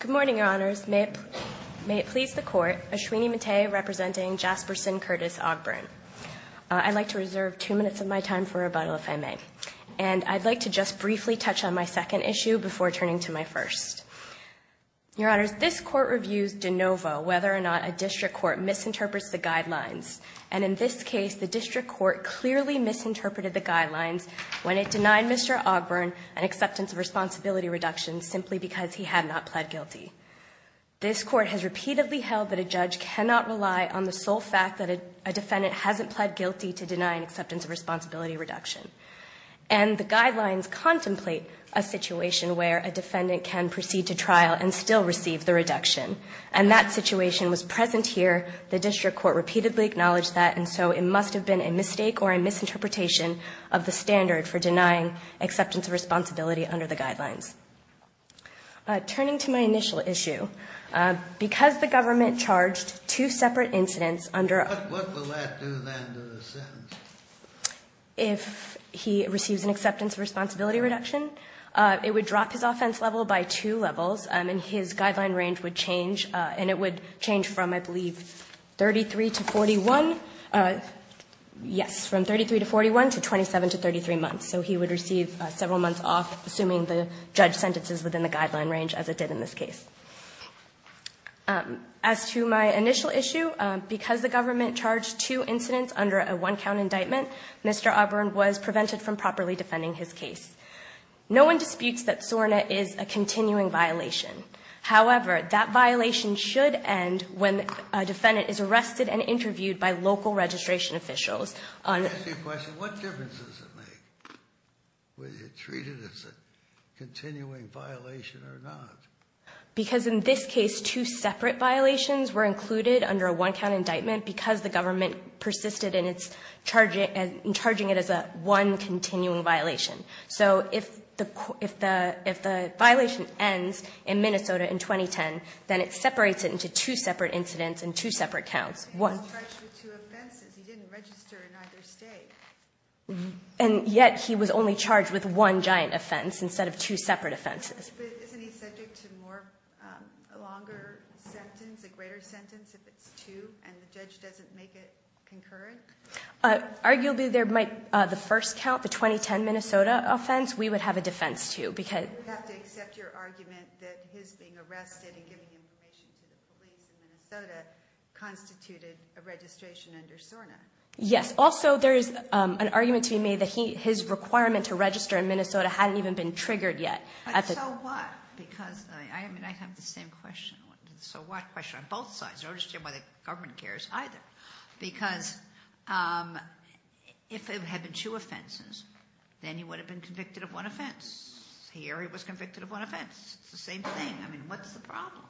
Good morning, Your Honors. May it please the Court, Ashwini Mate representing Jasperson Curtis Ogburn. I'd like to reserve two minutes of my time for rebuttal, if I may. And I'd like to just briefly touch on my second issue before turning to my first. Your Honors, this Court reviews de novo whether or not a district court misinterprets the guidelines. And in this case, the district court clearly misinterpreted the guidelines when it denied Mr. Ogburn an acceptance of responsibility reduction simply because he had not pled guilty. This Court has repeatedly held that a judge cannot rely on the sole fact that a defendant hasn't pled guilty to deny an acceptance of responsibility reduction. And the guidelines contemplate a situation where a defendant can proceed to trial and still receive the reduction. And that situation was present here. The district court repeatedly acknowledged that. And so it must have been a mistake or a misinterpretation of the standard for denying acceptance of responsibility reduction. Turning to my initial issue, because the government charged two separate incidents under a What will that do then to the sentence? If he receives an acceptance of responsibility reduction, it would drop his offense level by two levels, and his guideline range would change. And it would change from, I believe, 33 to 41, yes, from 33 to 41 to 27 to 33 months. So he would receive several months off, assuming the judge sentences within the guideline range, as it did in this case. As to my initial issue, because the government charged two incidents under a one count indictment, Mr. Ogburn was prevented from properly defending his case. No one disputes that SORNA is a continuing violation. However, that violation should end when a defendant is arrested and interviewed by local registration officials. I ask you a question, what difference does it make whether you treat it as a continuing violation or not? Because in this case, two separate violations were included under a one count indictment because the government persisted in charging it as a one continuing violation. So if the violation ends in Minnesota in 2010, then it separates it into two separate incidents and two separate counts. One- He was charged with two offenses, he didn't register in either state. And yet, he was only charged with one giant offense instead of two separate offenses. But isn't he subject to a longer sentence, a greater sentence, if it's two, and the judge doesn't make it concurrent? Arguably, there might, the first count, the 2010 Minnesota offense, we would have a defense too, because- He did a registration under SORNA. Yes, also there is an argument to be made that his requirement to register in Minnesota hadn't even been triggered yet. So what, because I have the same question, so what question on both sides, I don't understand why the government cares either. Because if it had been two offenses, then he would have been convicted of one offense. Here he was convicted of one offense, it's the same thing, I mean, what's the problem?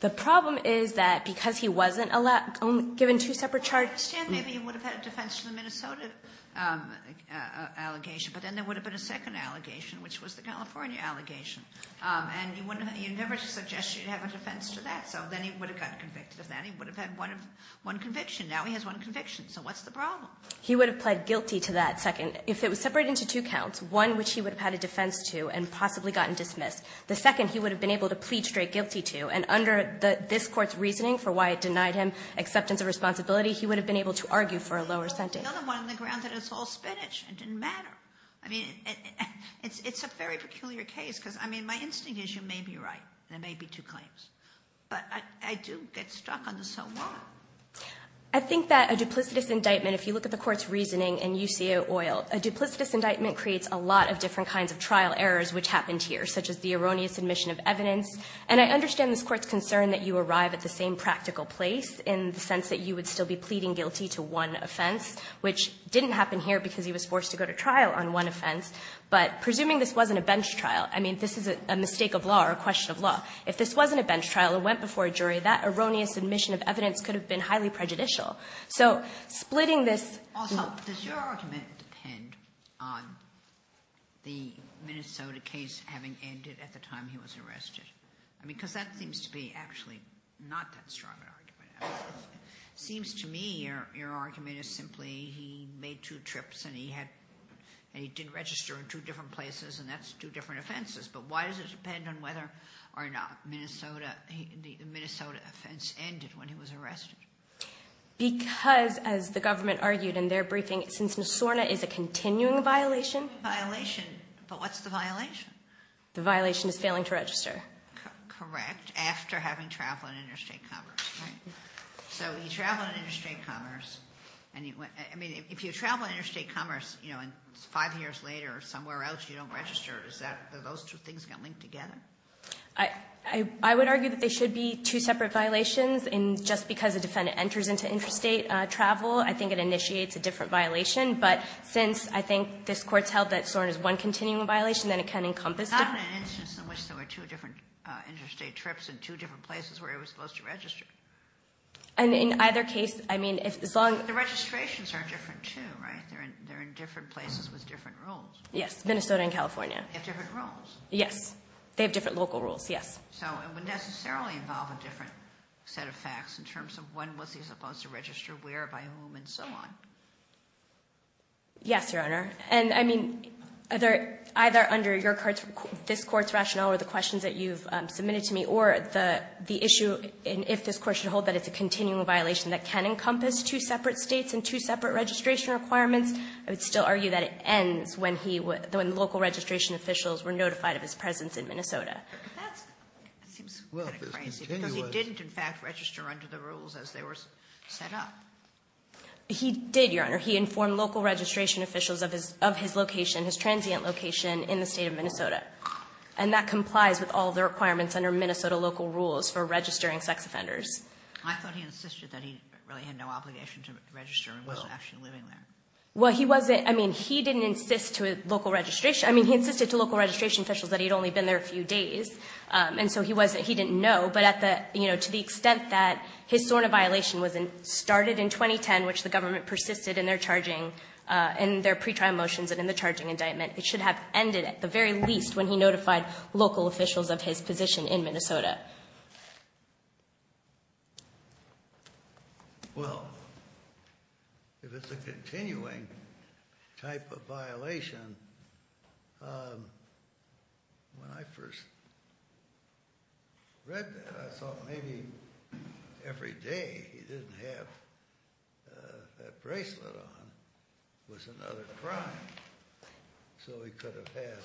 The problem is that because he wasn't given two separate charges- I understand maybe he would have had a defense to the Minnesota allegation, but then there would have been a second allegation, which was the California allegation. And you never suggest you'd have a defense to that, so then he would have got convicted of that. He would have had one conviction, now he has one conviction, so what's the problem? He would have pled guilty to that second, if it was separated into two counts, one which he would have had a defense to and possibly gotten dismissed. The second, he would have been able to plead straight guilty to, and under this court's reasoning for why it denied him acceptance of responsibility, he would have been able to argue for a lower sentence. The other one on the ground that it's all spinach, it didn't matter. I mean, it's a very peculiar case, because I mean, my instinct is you may be right, there may be two claims. But I do get stuck on the so what. I think that a duplicitous indictment, if you look at the court's reasoning in UCO oil, a duplicitous indictment creates a lot of different kinds of trial errors which happened here, such as the erroneous admission of evidence. And I understand this court's concern that you arrive at the same practical place in the sense that you would still be pleading guilty to one offense, which didn't happen here because he was forced to go to trial on one offense. But presuming this wasn't a bench trial, I mean, this is a mistake of law or a question of law. If this wasn't a bench trial and went before a jury, that erroneous admission of evidence could have been highly prejudicial. So, splitting this- Also, does your argument depend on the Minnesota case having ended at the time he was arrested? I mean, because that seems to be actually not that strong an argument. Seems to me your argument is simply he made two trips and he did register in two different places and that's two different offenses. But why does it depend on whether or not the Minnesota offense ended when he was arrested? Because, as the government argued in their briefing, since Missourna is a continuing violation- Violation, but what's the violation? The violation is failing to register. Correct, after having traveled in interstate commerce, right? So, you travel in interstate commerce, and if you travel interstate commerce and five years later somewhere else you don't register, is that, are those two things going to link together? I would argue that they should be two separate violations, and just because a defendant enters into interstate travel, I think it initiates a different violation. But since I think this court's held that Sorn is one continuing violation, then it can encompass- Not in an instance in which there were two different interstate trips in two different places where he was supposed to register. And in either case, I mean, as long- The registrations are different, too, right? They're in different places with different rules. Yes, Minnesota and California. They have different rules. Yes, they have different local rules, yes. So, it would necessarily involve a different set of facts in terms of when was he supposed to register, where, by whom, and so on. Yes, Your Honor, and I mean, either under this court's rationale or the questions that you've submitted to me, or the issue in if this court should hold that it's a continuing violation that can encompass two separate states and two separate registration requirements. I would still argue that it ends when local registration officials were notified of his presence in Minnesota. That seems kind of crazy, because he didn't, in fact, register under the rules as they were set up. He did, Your Honor. He informed local registration officials of his location, his transient location, in the state of Minnesota. And that complies with all the requirements under Minnesota local rules for registering sex offenders. I thought he insisted that he really had no obligation to register and was actually living there. Well, he wasn't, I mean, he didn't insist to local registration, I mean, he insisted to local registration officials that he'd only been there a few days. And so, he didn't know, but to the extent that his sort of violation was started in 2010, which the government persisted in their pre-trial motions and in the charging indictment, it should have ended at the very least when he notified local officials of his position in Minnesota. Well, if it's a continuing type of violation, when I first read that, I thought maybe every day he didn't have that bracelet on was another crime. So he could have had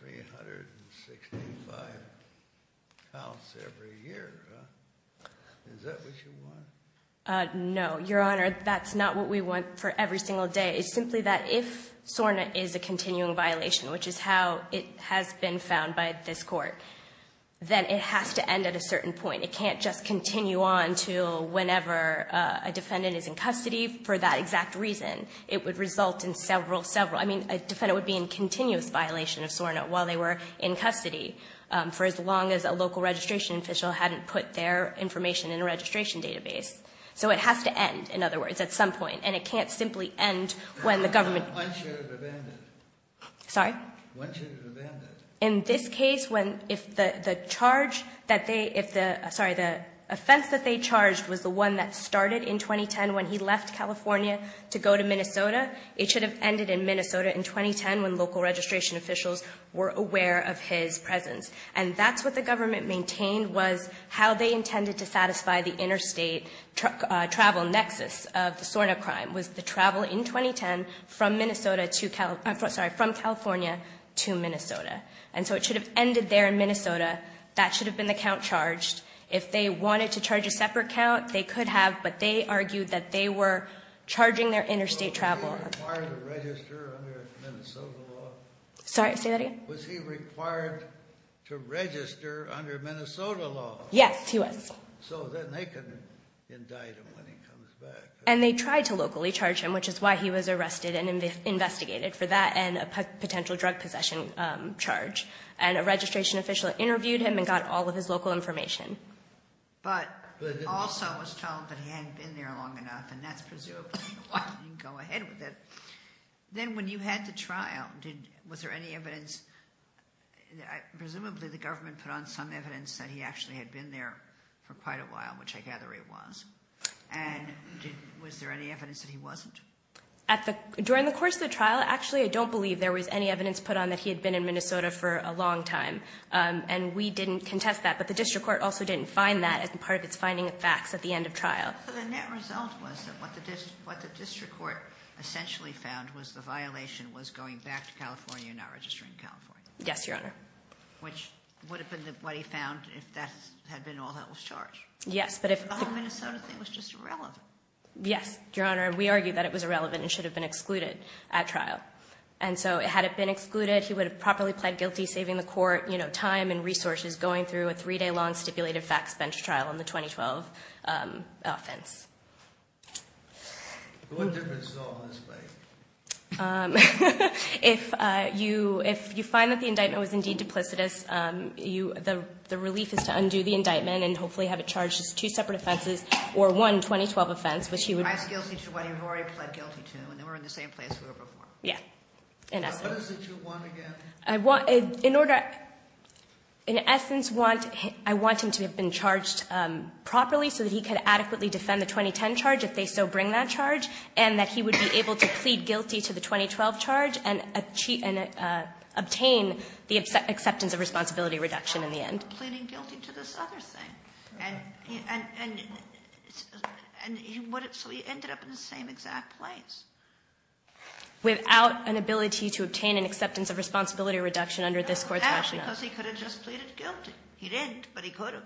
365 counts every year, is that what you want? No, Your Honor, that's not what we want for every single day. It's simply that if SORNA is a continuing violation, which is how it has been found by this court, then it has to end at a certain point. It can't just continue on until whenever a defendant is in custody for that exact reason. It would result in several, several, I mean, a defendant would be in continuous violation of SORNA while they were in custody for as long as a local registration official hadn't put their information in a registration database. So it has to end, in other words, at some point. And it can't simply end when the government- One should have abandoned it. Sorry? One should have abandoned it. In this case, when if the charge that they, if the, sorry, the offense that they charged was the one that started in 2010 when he left California to go to Minnesota, it should have ended in Minnesota in 2010 when local registration officials were aware of his presence. And that's what the government maintained was how they intended to satisfy the interstate travel nexus of the SORNA crime, was the travel in 2010 from California to Minnesota. And so it should have ended there in Minnesota. That should have been the count charged. If they wanted to charge a separate count, they could have, but they argued that they were charging their interstate travel. Was he required to register under Minnesota law? Sorry, say that again? Was he required to register under Minnesota law? Yes, he was. So then they can indict him when he comes back. And they tried to locally charge him, which is why he was arrested and investigated for that and a potential drug possession charge. And a registration official interviewed him and got all of his local information. But also was told that he hadn't been there long enough, and that's presumed, you can go ahead with it. Then when you had the trial, was there any evidence, presumably the government put on some evidence that he actually had been there for quite a while, which I gather he was. And was there any evidence that he wasn't? During the course of the trial, actually I don't believe there was any evidence put on that he had been in Minnesota for a long time. And we didn't contest that, but the district court also didn't find that as part of its finding of facts at the end of trial. So the net result was that what the district court essentially found was the violation was going back to California and not registering in California. Yes, Your Honor. Which would have been what he found if that had been all that was charged. Yes, but if- The whole Minnesota thing was just irrelevant. Yes, Your Honor, we argued that it was irrelevant and should have been excluded at trial. And so had it been excluded, he would have properly pled guilty, saving the court time and resources going through a three day long stipulated facts bench trial on the 2012 offense. What difference does all this make? If you find that the indictment was indeed duplicitous, the relief is to undo the indictment and hopefully have it charged as two separate offenses or one 2012 offense, which he would- He's guilty to what he already pled guilty to and they were in the same place they were before. Yeah, in essence. What is it you want again? I want, in essence, I want him to have been charged properly so that he could adequately defend the 2010 charge if they so bring that charge. And that he would be able to plead guilty to the 2012 charge and obtain the acceptance of responsibility reduction in the end. He ended up pleading guilty to this other thing, and so he ended up in the same exact place. Without an ability to obtain an acceptance of responsibility reduction under this court's rationale. Because he could have just pleaded guilty. He didn't, but he could have.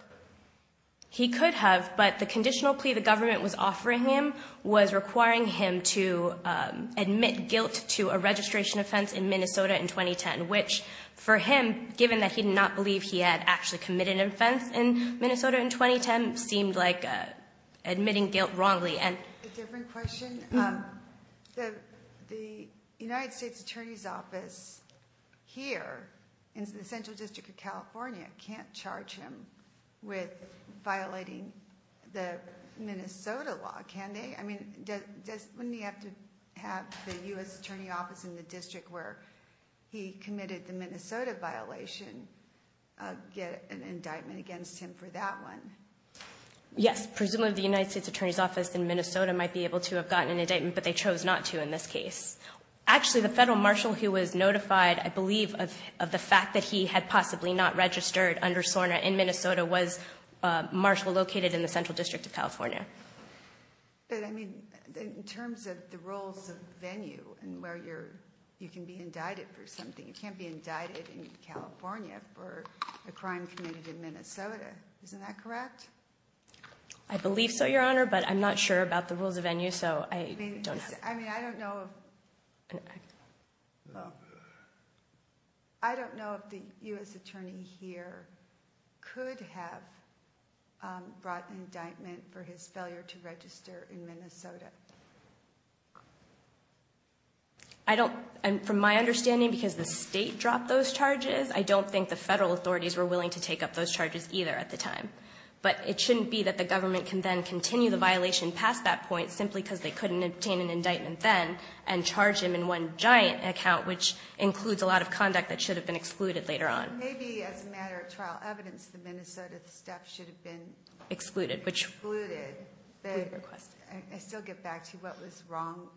He could have, but the conditional plea the government was offering him was requiring him to admit guilt to a registration offense in Minnesota in 2010, which for him, given that he did not believe he had actually committed an offense in Minnesota in 2010, seemed like admitting guilt wrongly and- A different question, the United States Attorney's Office here in the Central District of California can't charge him with violating the Minnesota law, can they? I mean, wouldn't he have to have the US Attorney's Office in the district where he committed the Minnesota violation get an indictment against him for that one? Yes, presumably the United States Attorney's Office in Minnesota might be able to have gotten an indictment, but they chose not to in this case. Actually, the federal marshal who was notified, I believe, of the fact that he had possibly not registered under SORNA in Minnesota was a marshal located in the Central District of California. But I mean, in terms of the rules of venue and where you can be indicted for something. You can't be indicted in California for a crime committed in Minnesota, isn't that correct? I believe so, Your Honor, but I'm not sure about the rules of venue, so I don't know. I mean, I don't know if, well, I don't know if the US attorney here could have brought an indictment for his failure to register in Minnesota. I don't, from my understanding, because the state dropped those charges, I don't think the federal authorities were willing to take up those charges either at the time. But it shouldn't be that the government can then continue the violation past that point simply because they couldn't obtain an indictment then and charge him in one giant account which includes a lot of conduct that should have been excluded later on. Maybe as a matter of trial evidence, the Minnesota step should have been- Excluded, which- Excluded. I still get back to what was wrong,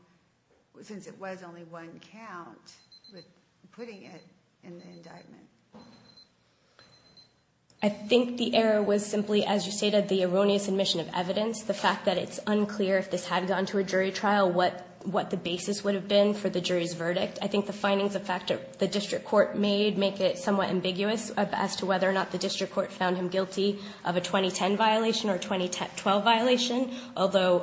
since it was only one count, with putting it in the indictment. I think the error was simply, as you stated, the erroneous admission of evidence. The fact that it's unclear if this had gone to a jury trial, what the basis would have been for the jury's verdict. I think the findings of fact that the district court made make it somewhat ambiguous as to whether or not the district court found him guilty of a 2010 violation or a 2012 violation. Although,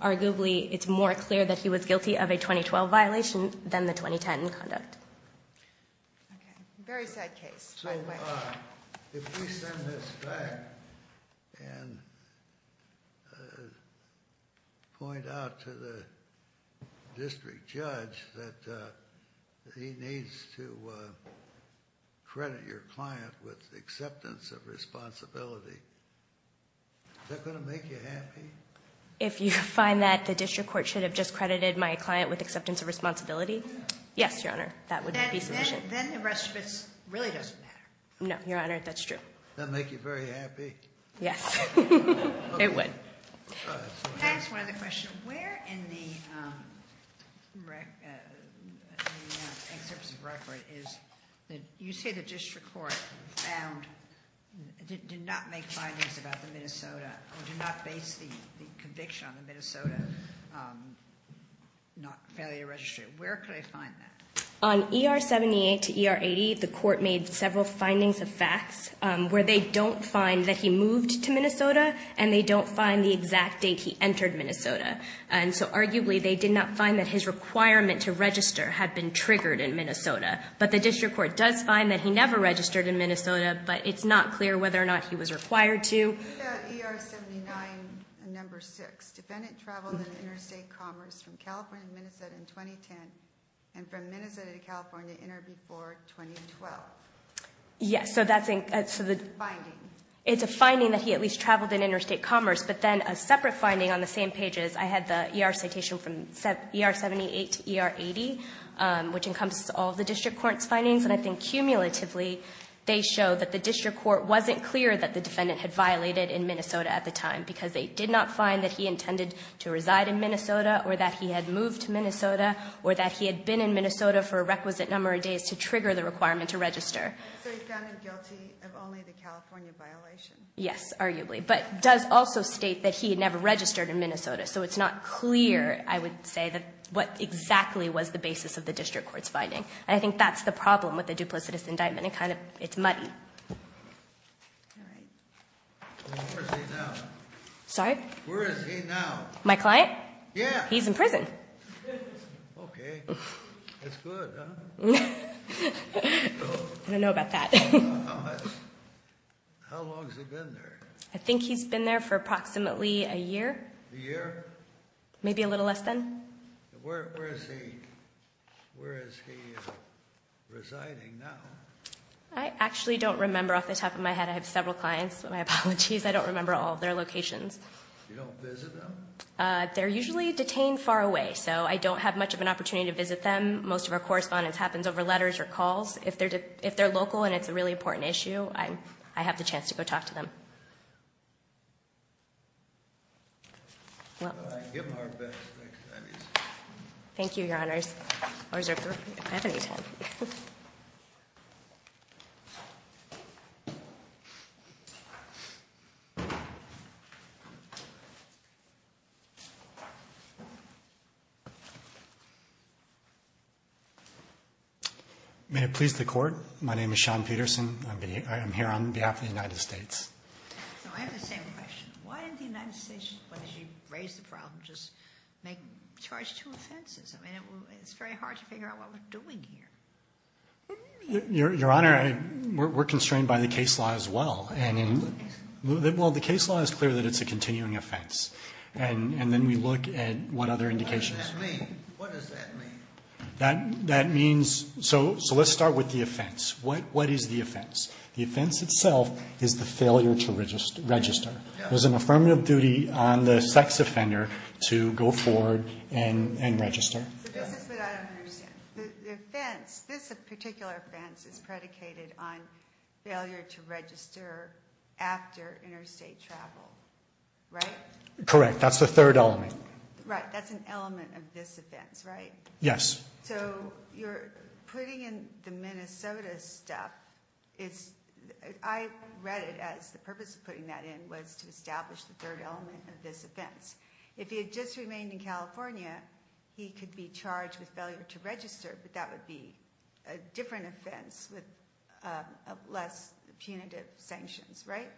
arguably, it's more clear that he was guilty of a 2012 violation than the 2010 conduct. Very sad case, by the way. So, if we send this back and point out to the district judge that he needs to credit your client with acceptance of responsibility, is that going to make you happy? If you find that the district court should have just credited my client with acceptance of responsibility, yes, Your Honor, that would be sufficient. Then the rest of it really doesn't matter. No, Your Honor, that's true. Does that make you very happy? Yes. It would. Can I ask one other question? Where in the excerpts of record is, you say the district court found, did not make findings about the Minnesota, or did not base the conviction on the Minnesota failure to register. Where could I find that? On ER 78 to ER 80, the court made several findings of facts where they don't find that he moved to Minnesota, and they don't find the exact date he entered Minnesota. And so, arguably, they did not find that his requirement to register had been triggered in Minnesota. But the district court does find that he never registered in Minnesota, but it's not clear whether or not he was required to. ER 79, number six. Defendant traveled in interstate commerce from California to Minnesota in 2010, and from Minnesota to California in or before 2012. Yes, so that's a- Finding. It's a finding that he at least traveled in interstate commerce, but then a separate finding on the same pages. I had the ER citation from ER 78 to ER 80, which encompasses all the district court's findings, and I think cumulatively they show that the district court wasn't clear that the defendant had violated in Minnesota at the time, because they did not find that he intended to reside in Minnesota, or that he had moved to Minnesota, or that he had been in Minnesota for a requisite number of days to trigger the requirement to register. So he's found guilty of only the California violation? Yes, arguably. But it does also state that he had never registered in Minnesota, so it's not clear, I would say, what exactly was the basis of the district court's finding. And I think that's the problem with a duplicitous indictment. It's muddy. All right. Where is he now? Sorry? Where is he now? My client? Yeah. He's in prison. Okay. That's good, huh? I don't know about that. How long has he been there? I think he's been there for approximately a year. A year? Maybe a little less than. Where is he residing now? I actually don't remember off the top of my head. I have several clients. My apologies. I don't remember all of their locations. You don't visit them? They're usually detained far away, so I don't have much of an opportunity to visit them. Most of our correspondence happens over letters or calls. If they're local and it's a really important issue, I have the chance to go talk to them. I give my best. Thank you, Your Honors. I have any time. May it please the Court. My name is Sean Peterson. I am here on behalf of the United States. I have the same question. Why didn't the United States, when they raised the problem, just charge two offenses? I mean, it's very hard to figure out what we're doing here. Your Honor, we're constrained by the case law as well. Well, the case law is clear that it's a continuing offense. And then we look at what other indications. What does that mean? So let's start with the offense. What is the offense? The offense itself is the failure to register. It was an affirmative duty on the sex offender to go forward and register. This is what I don't understand. The offense, this particular offense is predicated on failure to register after interstate travel, right? Correct. That's the third element. Right. That's an element of this offense, right? Yes. So you're putting in the Minnesota stuff. I read it as the purpose of putting that in was to establish the third element of this offense. If he had just remained in California, he could be charged with failure to register. But that would be a different offense with less punitive sanctions, right?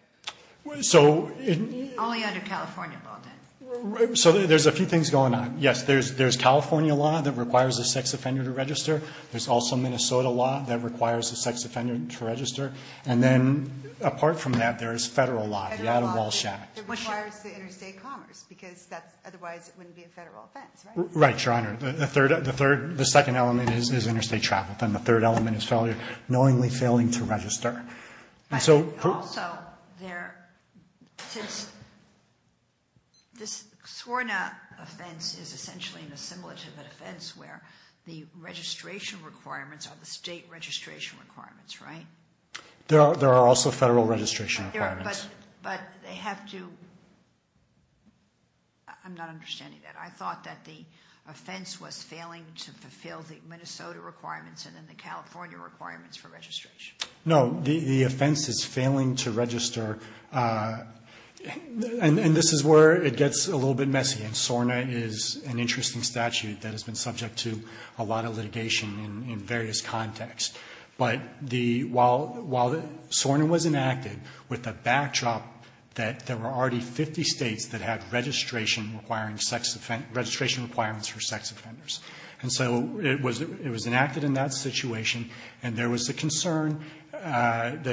Only under California, Baldwin. So there's a few things going on. Yes, there's California law that requires a sex offender to register. There's also Minnesota law that requires a sex offender to register. And then apart from that, there's federal law. Federal law that requires the interstate commerce because otherwise it wouldn't be a federal offense, right? Right, Your Honor. The second element is interstate travel. Then the third element is knowingly failing to register. Also, since this SORNA offense is essentially an assimilative offense where the registration requirements are the state registration requirements, right? There are also federal registration requirements. But they have to – I'm not understanding that. I thought that the offense was failing to fulfill the Minnesota requirements and then the California requirements for registration. No. The offense is failing to register. And this is where it gets a little bit messy. And SORNA is an interesting statute that has been subject to a lot of litigation in various contexts. But while SORNA was enacted with a backdrop that there were already 50 states that had registration requirements for sex offenders. And so it was enacted in that situation. And there was a concern that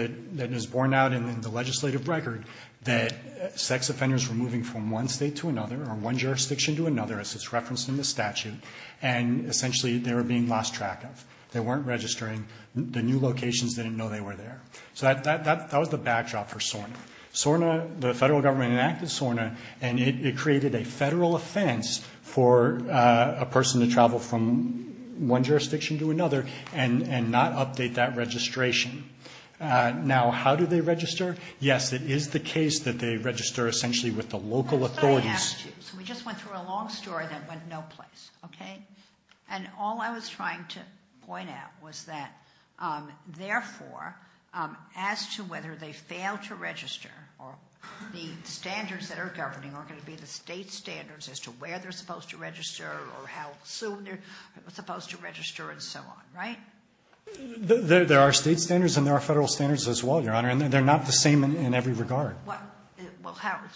is borne out in the legislative record that sex offenders were moving from one state to another or one jurisdiction to another as it's referenced in the statute. And essentially they were being lost track of. They weren't registering. The new locations didn't know they were there. So that was the backdrop for SORNA. SORNA – the federal government enacted SORNA and it created a federal offense for a person to travel from one jurisdiction to another and not update that registration. Now, how do they register? Yes, it is the case that they register essentially with the local authorities. So we just went through a long story that went no place, okay? And all I was trying to point out was that, therefore, as to whether they fail to register or the standards that are governing are going to be the state standards as to where they're supposed to register or how soon they're supposed to register and so on, right? There are state standards and there are federal standards as well, Your Honor, and they're not the same in every regard. Well,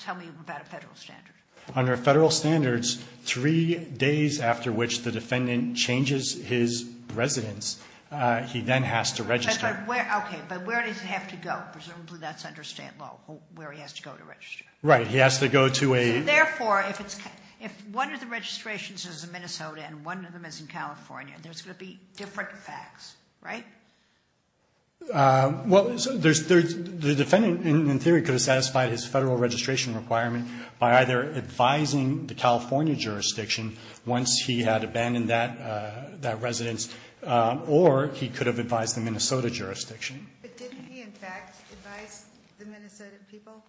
tell me about a federal standard. Under federal standards, three days after which the defendant changes his residence, he then has to register. Okay, but where does he have to go? Presumably that's under state law where he has to go to register. Right. He has to go to a… So, therefore, if one of the registrations is in Minnesota and one of them is in California, there's going to be different facts, right? Well, the defendant, in theory, could have satisfied his federal registration requirement by either advising the California jurisdiction once he had abandoned that residence or he could have advised the Minnesota jurisdiction. But didn't he, in fact, advise the Minnesota people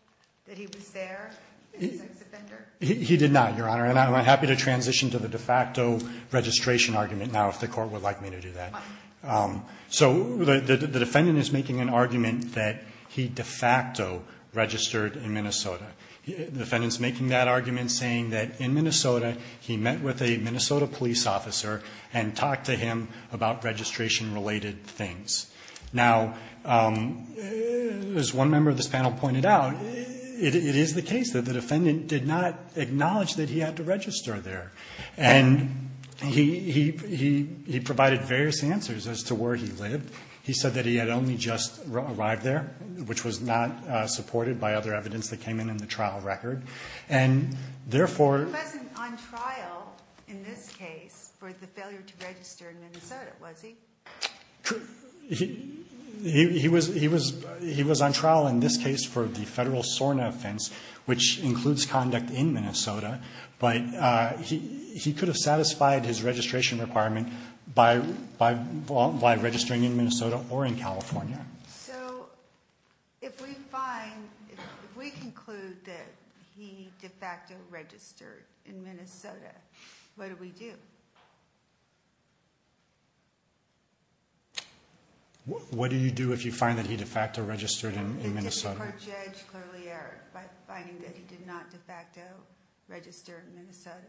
that he was there as a sex offender? He did not, Your Honor, and I'm happy to transition to the de facto registration argument now if the court would like me to do that. So the defendant is making an argument that he de facto registered in Minnesota. The defendant's making that argument saying that in Minnesota he met with a Minnesota police officer and talked to him about registration-related things. Now, as one member of this panel pointed out, it is the case that the defendant did not acknowledge that he had to register there. And he provided various answers as to where he lived. He said that he had only just arrived there, which was not supported by other evidence that came in in the trial record. And, therefore… He wasn't on trial in this case for the failure to register in Minnesota, was he? He was on trial in this case for the federal SORNA offense, which includes conduct in Minnesota. But he could have satisfied his registration requirement by registering in Minnesota or in California. So if we find, if we conclude that he de facto registered in Minnesota, what do we do? What do you do if you find that he de facto registered in Minnesota? Or judge clearly error by finding that he did not de facto register in Minnesota?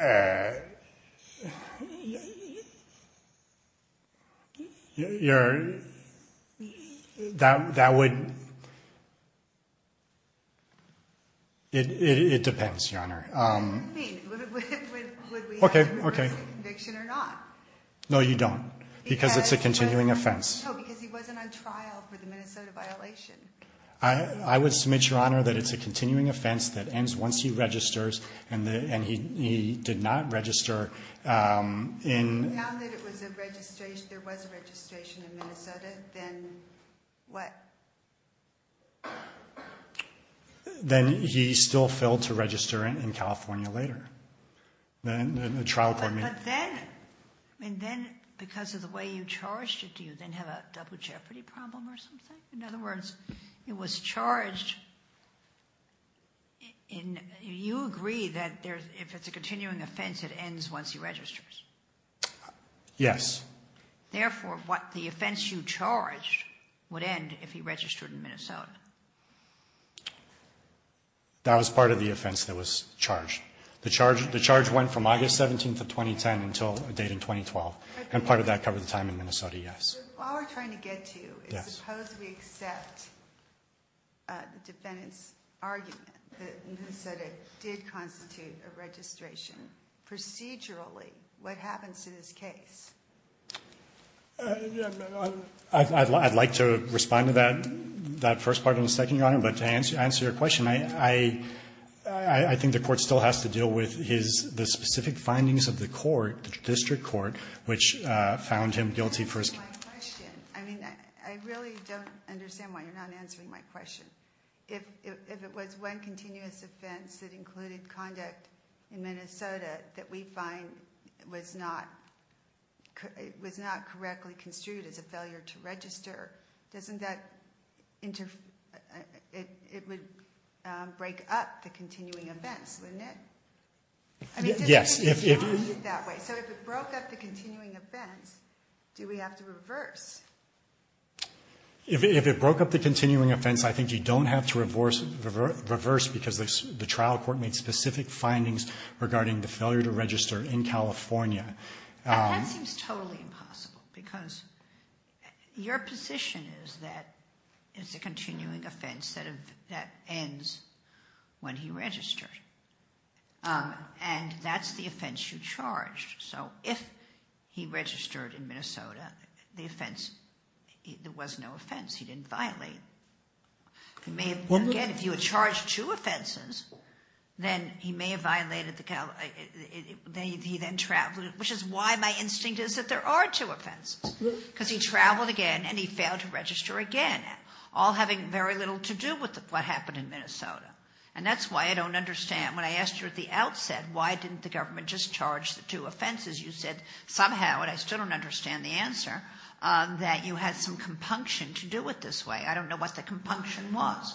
Uh… Your… That would… It depends, Your Honor. What do you mean? Would we have a conviction or not? No, you don't. Because it's a continuing offense. No, because he wasn't on trial for the Minnesota violation. I would submit, Your Honor, that it's a continuing offense that ends once he registers and he did not register in… Now that it was a registration, there was a registration in Minnesota, then what? Then he still failed to register in California later. The trial court made… But then, and then because of the way you charged it, do you then have a double jeopardy problem or something? In other words, it was charged in… You agree that if it's a continuing offense, it ends once he registers? Yes. Therefore, what the offense you charged would end if he registered in Minnesota? That was part of the offense that was charged. The charge went from August 17th of 2010 until a date in 2012. And part of that covered the time in Minnesota, yes. While we're trying to get to you, suppose we accept the defendant's argument that Minnesota did constitute a registration. Procedurally, what happens to this case? I'd like to respond to that first part and the second, Your Honor. No, but to answer your question, I think the court still has to deal with the specific findings of the court, the district court, which found him guilty for his… My question, I mean, I really don't understand why you're not answering my question. If it was one continuous offense that included conduct in Minnesota that we find was not correctly construed as a failure to register, doesn't that – it would break up the continuing offense, wouldn't it? Yes. So if it broke up the continuing offense, do we have to reverse? If it broke up the continuing offense, I think you don't have to reverse because the trial court made specific findings regarding the failure to register in California. That seems totally impossible because your position is that it's a continuing offense that ends when he registered, and that's the offense you charged. So if he registered in Minnesota, the offense – there was no offense he didn't violate. Again, if you had charged two offenses, then he may have violated the – he then traveled, which is why my instinct is that there are two offenses, because he traveled again and he failed to register again, all having very little to do with what happened in Minnesota. And that's why I don't understand. When I asked you at the outset why didn't the government just charge the two offenses, you said somehow, and I still don't understand the answer, that you had some compunction to do it this way. I don't know what the compunction was.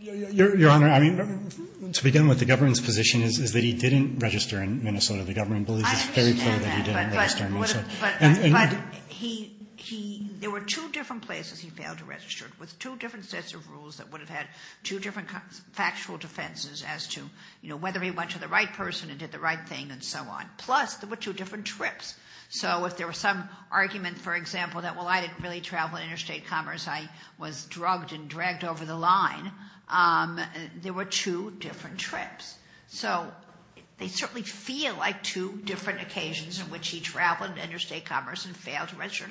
Your Honor, I mean, to begin with, the government's position is that he didn't register in Minnesota. The government believes it's very clear that he didn't register in Minnesota. But he – there were two different places he failed to register, with two different sets of rules that would have had two different factual defenses as to, you know, whether he went to the right person and did the right thing and so on. Plus, there were two different trips. So if there was some argument, for example, that, well, I didn't really travel interstate commerce. I was drugged and dragged over the line. There were two different trips. So they certainly feel like two different occasions in which he traveled interstate commerce and failed to register,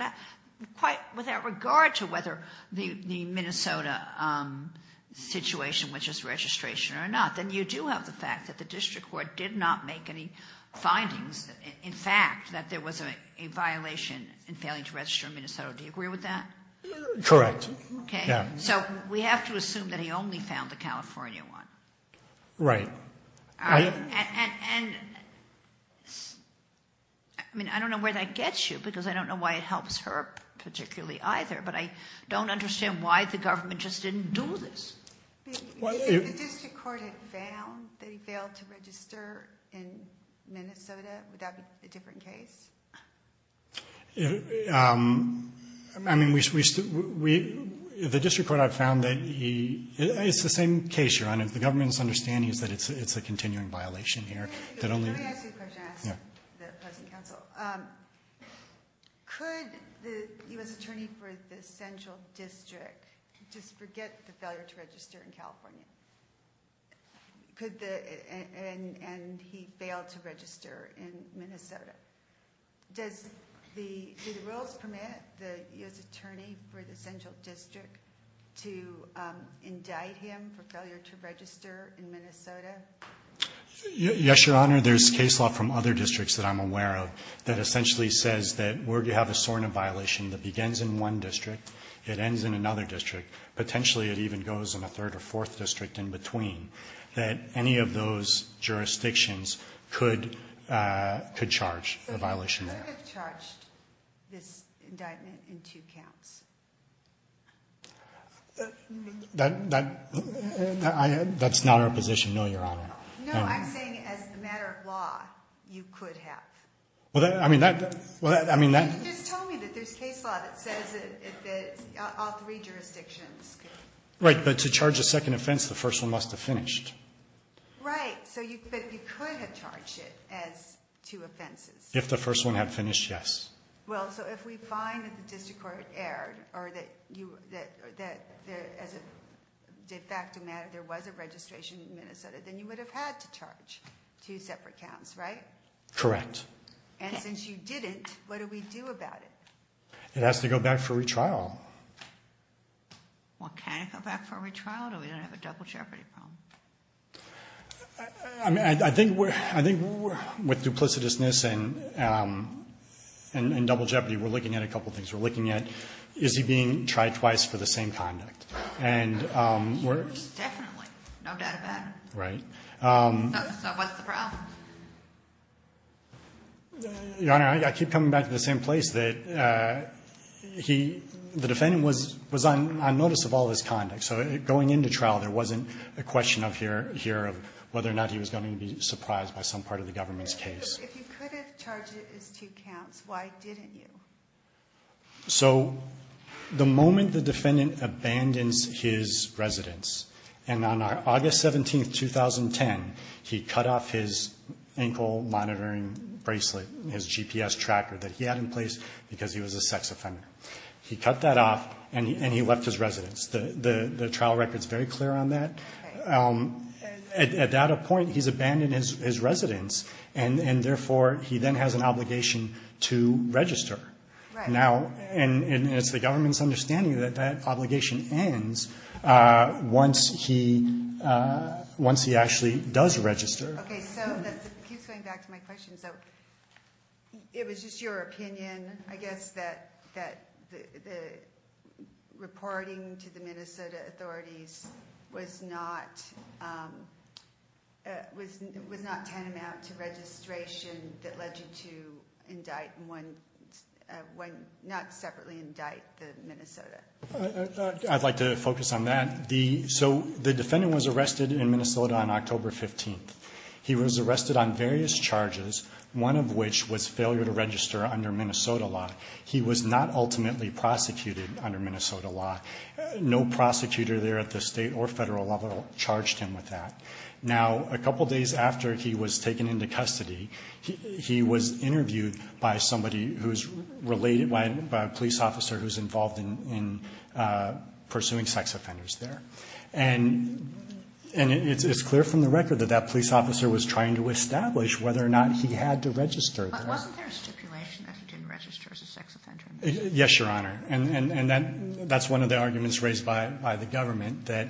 quite without regard to whether the Minnesota situation, which is registration or not. Then you do have the fact that the district court did not make any findings. In fact, that there was a violation in failing to register in Minnesota. Do you agree with that? Correct. Okay. So we have to assume that he only found the California one. Right. And I mean, I don't know where that gets you because I don't know why it helps her particularly either. But I don't understand why the government just didn't do this. If the district court had found that he failed to register in Minnesota, would that be a different case? I mean, the district court had found that he – it's the same case, Your Honor. The government's understanding is that it's a continuing violation here. Let me ask you a question. I asked the opposing counsel. Could the U.S. Attorney for the Central District just forget the failure to register in California? And he failed to register in Minnesota. Do the rules permit the U.S. Attorney for the Central District to indict him for failure to register in Minnesota? Yes, Your Honor. Your Honor, there's case law from other districts that I'm aware of that essentially says that where you have a SORNA violation that begins in one district, it ends in another district, potentially it even goes in a third or fourth district in between, that any of those jurisdictions could charge a violation there. So he could have charged this indictment in two counts. That's not our position, no, Your Honor. No, I'm saying as a matter of law, you could have. I mean, that – You just told me that there's case law that says that all three jurisdictions could. Right, but to charge a second offense, the first one must have finished. Right, but you could have charged it as two offenses. If the first one had finished, yes. Well, so if we find that the district court erred or that as a de facto matter there was a registration in Minnesota, then you would have had to charge two separate counts, right? Correct. And since you didn't, what do we do about it? It has to go back for retrial. Well, can it go back for retrial? Do we then have a double jeopardy problem? I mean, I think with duplicitousness and double jeopardy, we're looking at a couple things. We're looking at is he being tried twice for the same conduct. And we're – He was definitely, no doubt about it. Right. So what's the problem? Your Honor, I keep coming back to the same place that he – the defendant was on notice of all this conduct. So going into trial, there wasn't a question here of whether or not he was going to be surprised by some part of the government's case. If you could have charged it as two counts, why didn't you? So the moment the defendant abandons his residence, and on August 17, 2010, he cut off his ankle monitoring bracelet, his GPS tracker that he had in place because he was a sex offender. He cut that off, and he left his residence. The trial record is very clear on that. Okay. At that point, he's abandoned his residence, and therefore, he then has an obligation to register. Right. And it's the government's understanding that that obligation ends once he actually does register. Okay, so that keeps going back to my question. So it was just your opinion, I guess, that the reporting to the Minnesota authorities was not tantamount to registration that led you to indict one – not separately indict the Minnesota. I'd like to focus on that. So the defendant was arrested in Minnesota on October 15th. He was arrested on various charges, one of which was failure to register under Minnesota law. He was not ultimately prosecuted under Minnesota law. No prosecutor there at the state or federal level charged him with that. Now, a couple days after he was taken into custody, he was interviewed by somebody who's related – by a police officer who's involved in pursuing sex offenders there. And it's clear from the record that that police officer was trying to establish whether or not he had to register. But wasn't there a stipulation that he didn't register as a sex offender? Yes, Your Honor. And that's one of the arguments raised by the government, that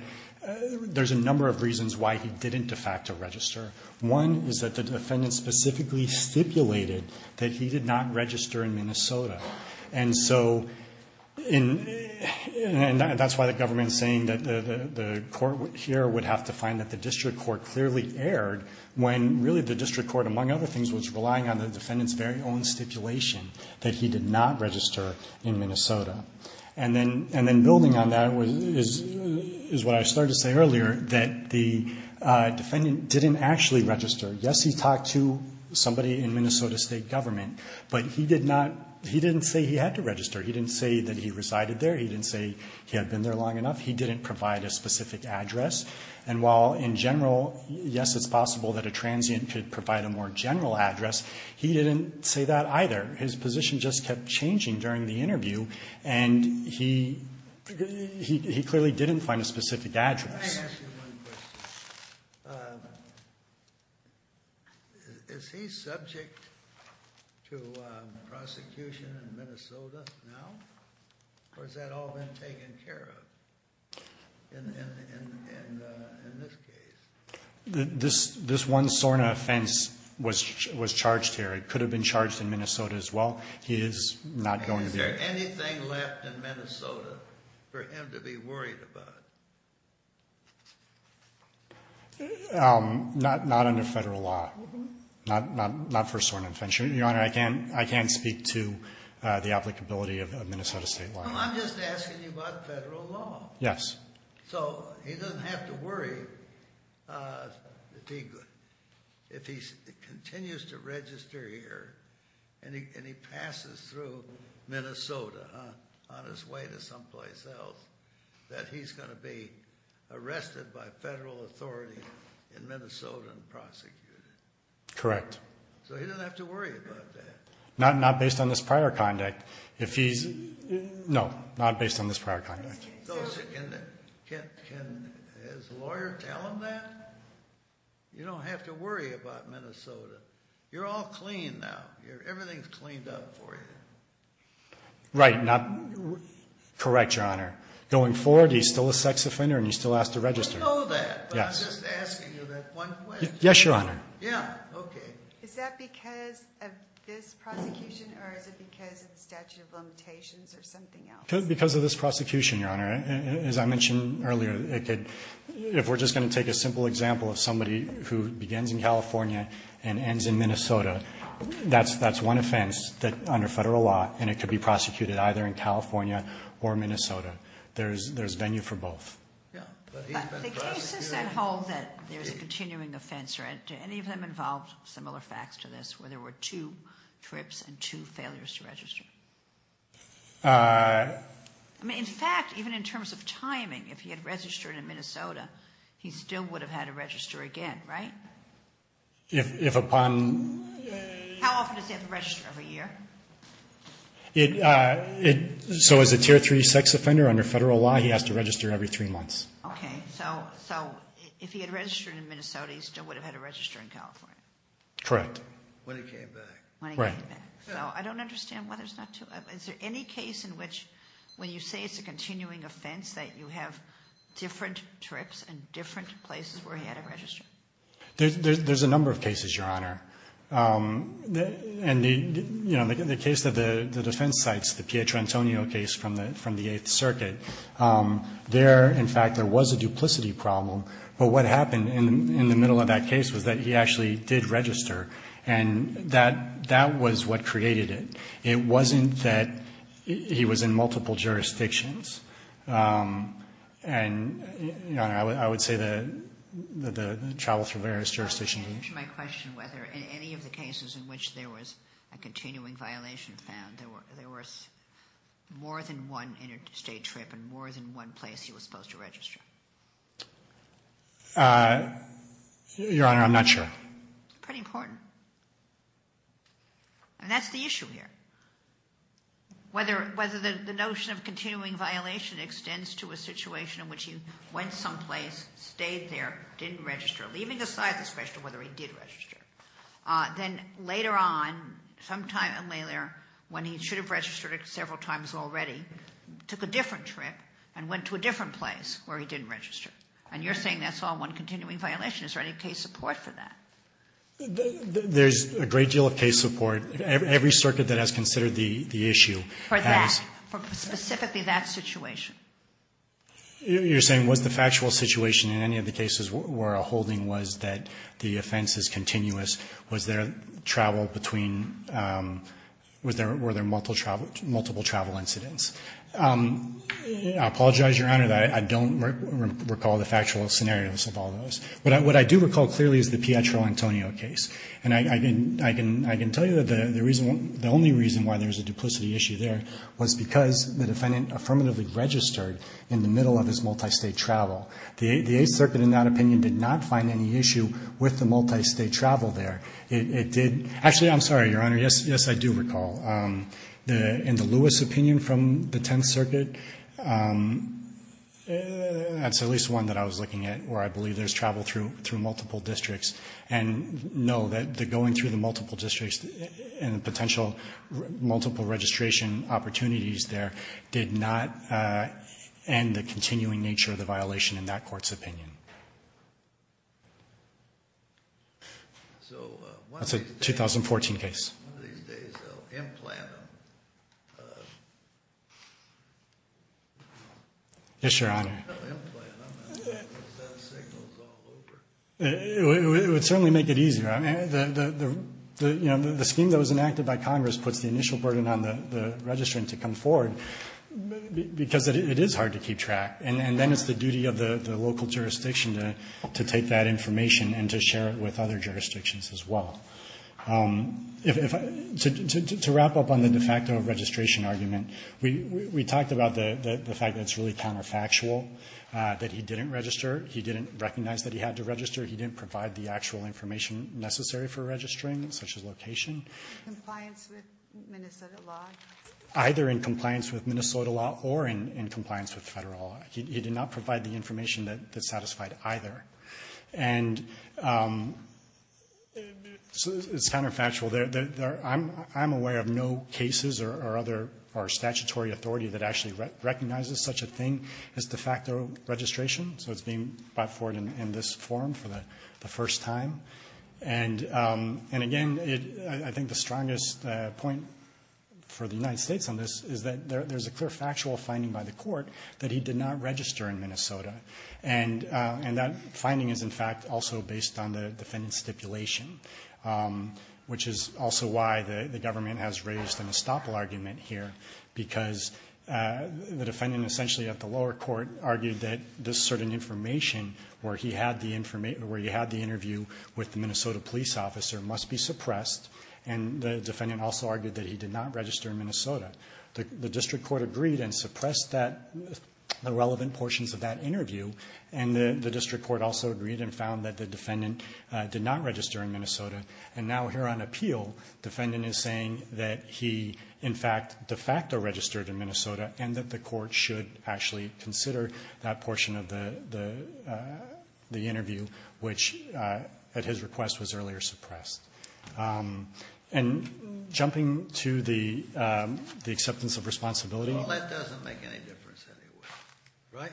there's a number of reasons why he didn't de facto register. One is that the defendant specifically stipulated that he did not register in Minnesota. And so – and that's why the government is saying that the court here would have to find that the district court clearly erred when really the district court, among other things, was relying on the defendant's very own stipulation that he did not register in Minnesota. And then building on that is what I started to say earlier, that the defendant didn't actually register. Yes, he talked to somebody in Minnesota State Government, but he did not – he didn't say he had to register. He didn't say that he resided there. He didn't say he had been there long enough. He didn't provide a specific address. And while in general, yes, it's possible that a transient could provide a more general address, he didn't say that either. His position just kept changing during the interview, and he clearly didn't find a specific address. Can I ask you one question? Is he subject to prosecution in Minnesota now? Or has that all been taken care of in this case? This one SORNA offense was charged here. It could have been charged in Minnesota as well. He is not going to be – Is there anything left in Minnesota for him to be worried about? Not under federal law. Not for SORNA offense. Your Honor, I can't speak to the applicability of Minnesota State law. Well, I'm just asking you about federal law. Yes. So he doesn't have to worry if he continues to register here and he passes through Minnesota on his way to someplace else, that he's going to be arrested by federal authority in Minnesota and prosecuted. Correct. So he doesn't have to worry about that. Not based on this prior conduct. No, not based on this prior conduct. Can his lawyer tell him that? You don't have to worry about Minnesota. You're all clean now. Everything's cleaned up for you. Right. Correct, Your Honor. Going forward, he's still a sex offender and he still has to register. I know that, but I'm just asking you that one question. Yes, Your Honor. Yeah, okay. Is that because of this prosecution or is it because of the statute of limitations or something else? Because of this prosecution, Your Honor. As I mentioned earlier, if we're just going to take a simple example of somebody who begins in California and ends in Minnesota, that's one offense under federal law and it could be prosecuted either in California or Minnesota. There's venue for both. Yeah. The cases that hold that there's a continuing offense, do any of them involve similar facts to this where there were two trips and two failures to register? In fact, even in terms of timing, if he had registered in Minnesota, he still would have had to register again, right? If upon... How often does he have to register? Every year? So as a Tier 3 sex offender under federal law, he has to register every three months. Okay. So if he had registered in Minnesota, he still would have had to register in California? Correct. When he came back. Right. So I don't understand why there's not two. Is there any case in which when you say it's a continuing offense that you have different trips and different places where he had to register? There's a number of cases, Your Honor. And the case of the defense sites, the Pietrantonio case from the Eighth Circuit, there, in fact, there was a duplicity problem. But what happened in the middle of that case was that he actually did register. And that was what created it. It wasn't that he was in multiple jurisdictions. And, Your Honor, I would say that the travel through various jurisdictions... Can you answer my question whether in any of the cases in which there was a continuing violation found, there was more than one interstate trip and more than one place he was supposed to register? Your Honor, I'm not sure. Pretty important. And that's the issue here. Whether the notion of continuing violation extends to a situation in which he went someplace, stayed there, didn't register, leaving aside the question of whether he did register. Then later on, sometime later, when he should have registered several times already, took a different trip and went to a different place where he didn't register. And you're saying that's all one continuing violation. Is there any case support for that? There's a great deal of case support. Every circuit that has considered the issue has. For that. For specifically that situation. You're saying was the factual situation in any of the cases where a holding was that the offense is continuous, was there travel between, were there multiple travel incidents? I apologize, Your Honor, that I don't recall the factual scenarios of all those. But what I do recall clearly is the Pietro Antonio case. And I can tell you that the reason, the only reason why there's a duplicity issue there was because the defendant affirmatively registered in the middle of his multistate travel. The Eighth Circuit in that opinion did not find any issue with the multistate travel there. It did. Actually, I'm sorry, Your Honor. Yes, I do recall. In the Lewis opinion from the Tenth Circuit, that's at least one that I was looking at where I believe there's travel through multiple districts. And no, the going through the multiple districts and the potential multiple registration opportunities there did not end the continuing nature of the violation in that court's opinion. That's a 2014 case. One of these days they'll implant them. Yes, Your Honor. They'll implant them and send signals all over. It would certainly make it easier. I mean, the scheme that was enacted by Congress puts the initial burden on the registrant to come forward because it is hard to keep track. And then it's the duty of the local jurisdiction to take that information and to share it with other jurisdictions as well. To wrap up on the de facto registration argument, we talked about the fact that it's really counterfactual that he didn't register. He didn't recognize that he had to register. He didn't provide the actual information necessary for registering, such as location. Compliance with Minnesota law? Either in compliance with Minnesota law or in compliance with federal law. He did not provide the information that satisfied either. And it's counterfactual. I'm aware of no cases or other statutory authority that actually recognizes such a thing as de facto registration. So it's being brought forward in this forum for the first time. And, again, I think the strongest point for the United States on this is that there's a clear factual finding by the court that he did not register in Minnesota. And that finding is, in fact, also based on the defendant's stipulation, which is also why the government has raised an estoppel argument here. Because the defendant essentially at the lower court argued that this certain information where he had the interview with the Minnesota police officer must be suppressed. And the defendant also argued that he did not register in Minnesota. The district court agreed and suppressed the relevant portions of that interview. And the district court also agreed and found that the defendant did not register in Minnesota. And now here on appeal, defendant is saying that he, in fact, de facto registered in Minnesota, and that the court should actually consider that portion of the interview, which at his request was earlier suppressed. And jumping to the acceptance of responsibility. Breyer. Well, that doesn't make any difference anyway. Right?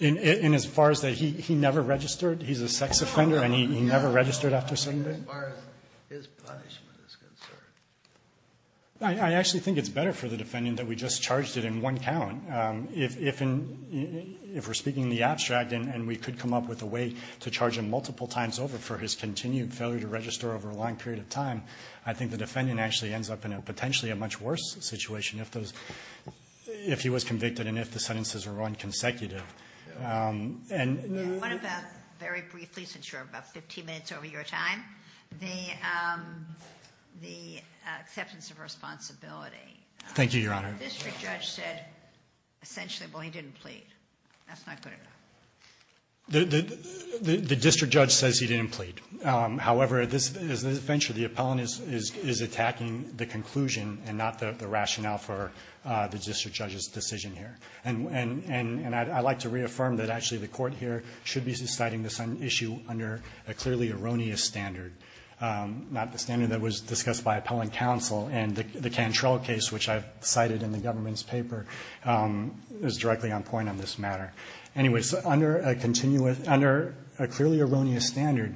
And as far as that he never registered? He's a sex offender and he never registered after Sunday? As far as his punishment is concerned. I actually think it's better for the defendant that we just charged it in one count. If we're speaking the abstract and we could come up with a way to charge him multiple times over for his continued failure to register over a long period of time, I think the defendant actually ends up in a potentially a much worse situation if he was convicted and if the sentences were run consecutive. What about very briefly, since you're about 15 minutes over your time, the acceptance of responsibility? Thank you, Your Honor. The district judge said essentially, well, he didn't plead. That's not good enough. The district judge says he didn't plead. However, this is an adventure. The appellant is attacking the conclusion and not the rationale for the district judge's decision here. And I'd like to reaffirm that actually the court here should be citing this issue under a clearly erroneous standard, not the standard that was discussed by appellant counsel. And the Cantrell case, which I've cited in the government's paper, is directly on point on this matter. Anyways, under a clearly erroneous standard,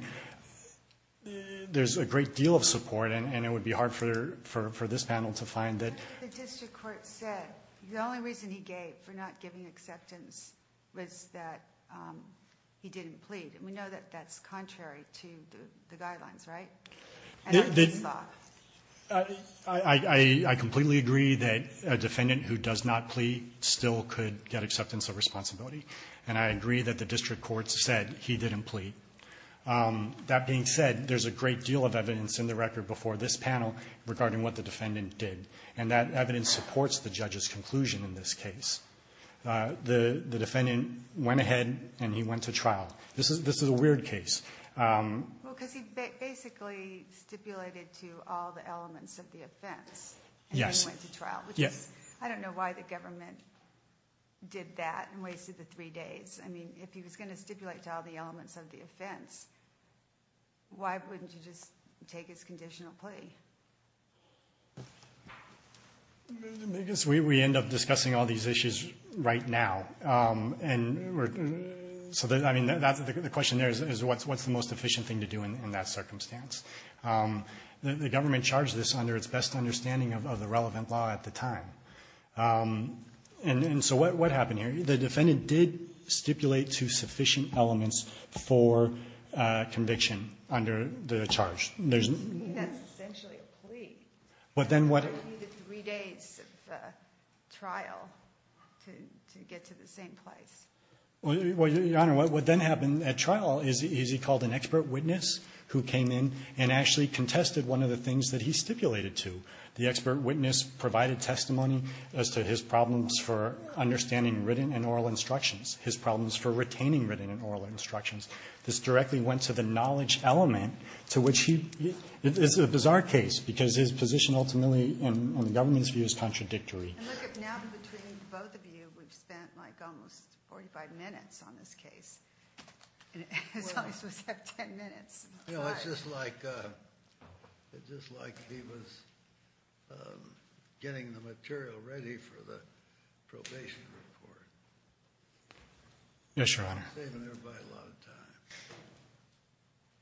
there's a great deal of support, and it would be hard for this panel to find that. The district court said the only reason he gave for not giving acceptance was that he didn't plead. And we know that that's contrary to the guidelines, right? I completely agree that a defendant who does not plead still could get acceptance of responsibility, and I agree that the district court said he didn't plead. That being said, there's a great deal of evidence in the record before this panel regarding what the defendant did, and that evidence supports the judge's conclusion in this case. The defendant went ahead and he went to trial. This is a weird case. Well, because he basically stipulated to all the elements of the offense. Yes. And he went to trial, which is, I don't know why the government did that and wasted the three days. I mean, if he was going to stipulate to all the elements of the offense, why wouldn't he just take his conditional plea? I guess we end up discussing all these issues right now. And so, I mean, the question there is what's the most efficient thing to do in that circumstance? The government charged this under its best understanding of the relevant law at the time. And so what happened here? The defendant did stipulate to sufficient elements for conviction under the charge. I mean, that's essentially a plea. But then what? He needed three days of trial to get to the same place. Well, Your Honor, what then happened at trial is he called an expert witness who came in and actually contested one of the things that he stipulated to. The expert witness provided testimony as to his problems for understanding written and oral instructions, his problems for retaining written and oral instructions. This directly went to the knowledge element to which he ‑‑ it's a bizarre case because his position ultimately in the government's view is contradictory. And look, now between both of you, we've spent like almost 45 minutes on this case. We're only supposed to have 10 minutes. You know, it's just like he was getting the material ready for the probation report. Yes, Your Honor. You're saving everybody a lot of time.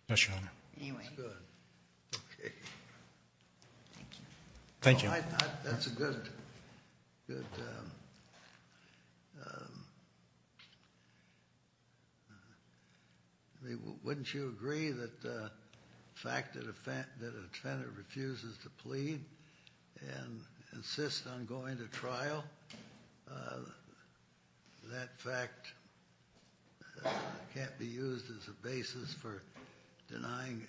No, Your Honor. Anyway. That's good. Okay. Thank you. Thank you. That's a good ‑‑ wouldn't you agree that the fact that a defendant refuses to plead and insists on going to trial, that fact can't be used as a basis for denying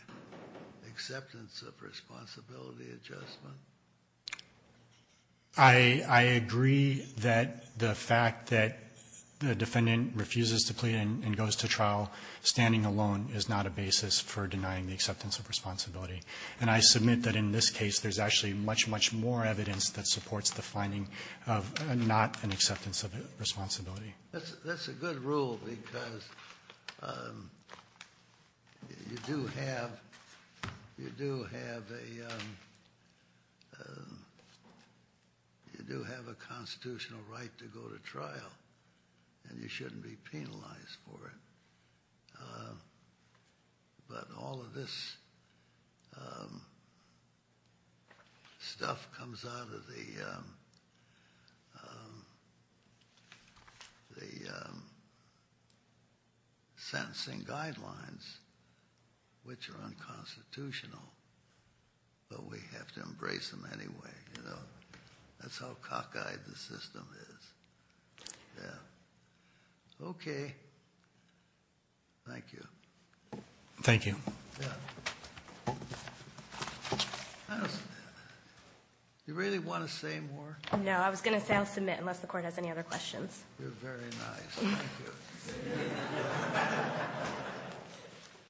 acceptance of responsibility adjustment? I agree that the fact that the defendant refuses to plead and goes to trial standing alone is not a basis for denying the acceptance of responsibility. And I submit that in this case, there's actually much, much more evidence that supports the finding of not an acceptance of responsibility. That's a good rule because you do have ‑‑ you do have a constitutional right to go to trial. And you shouldn't be penalized for it. But all of this stuff comes out of the sentencing guidelines, which are unconstitutional. But we have to embrace them anyway, you know. That's how cockeyed the system is. Yeah. Okay. Thank you. Thank you. Yeah. You really want to say more? No, I was going to say I'll submit unless the court has any other questions. You're very nice. Thank you.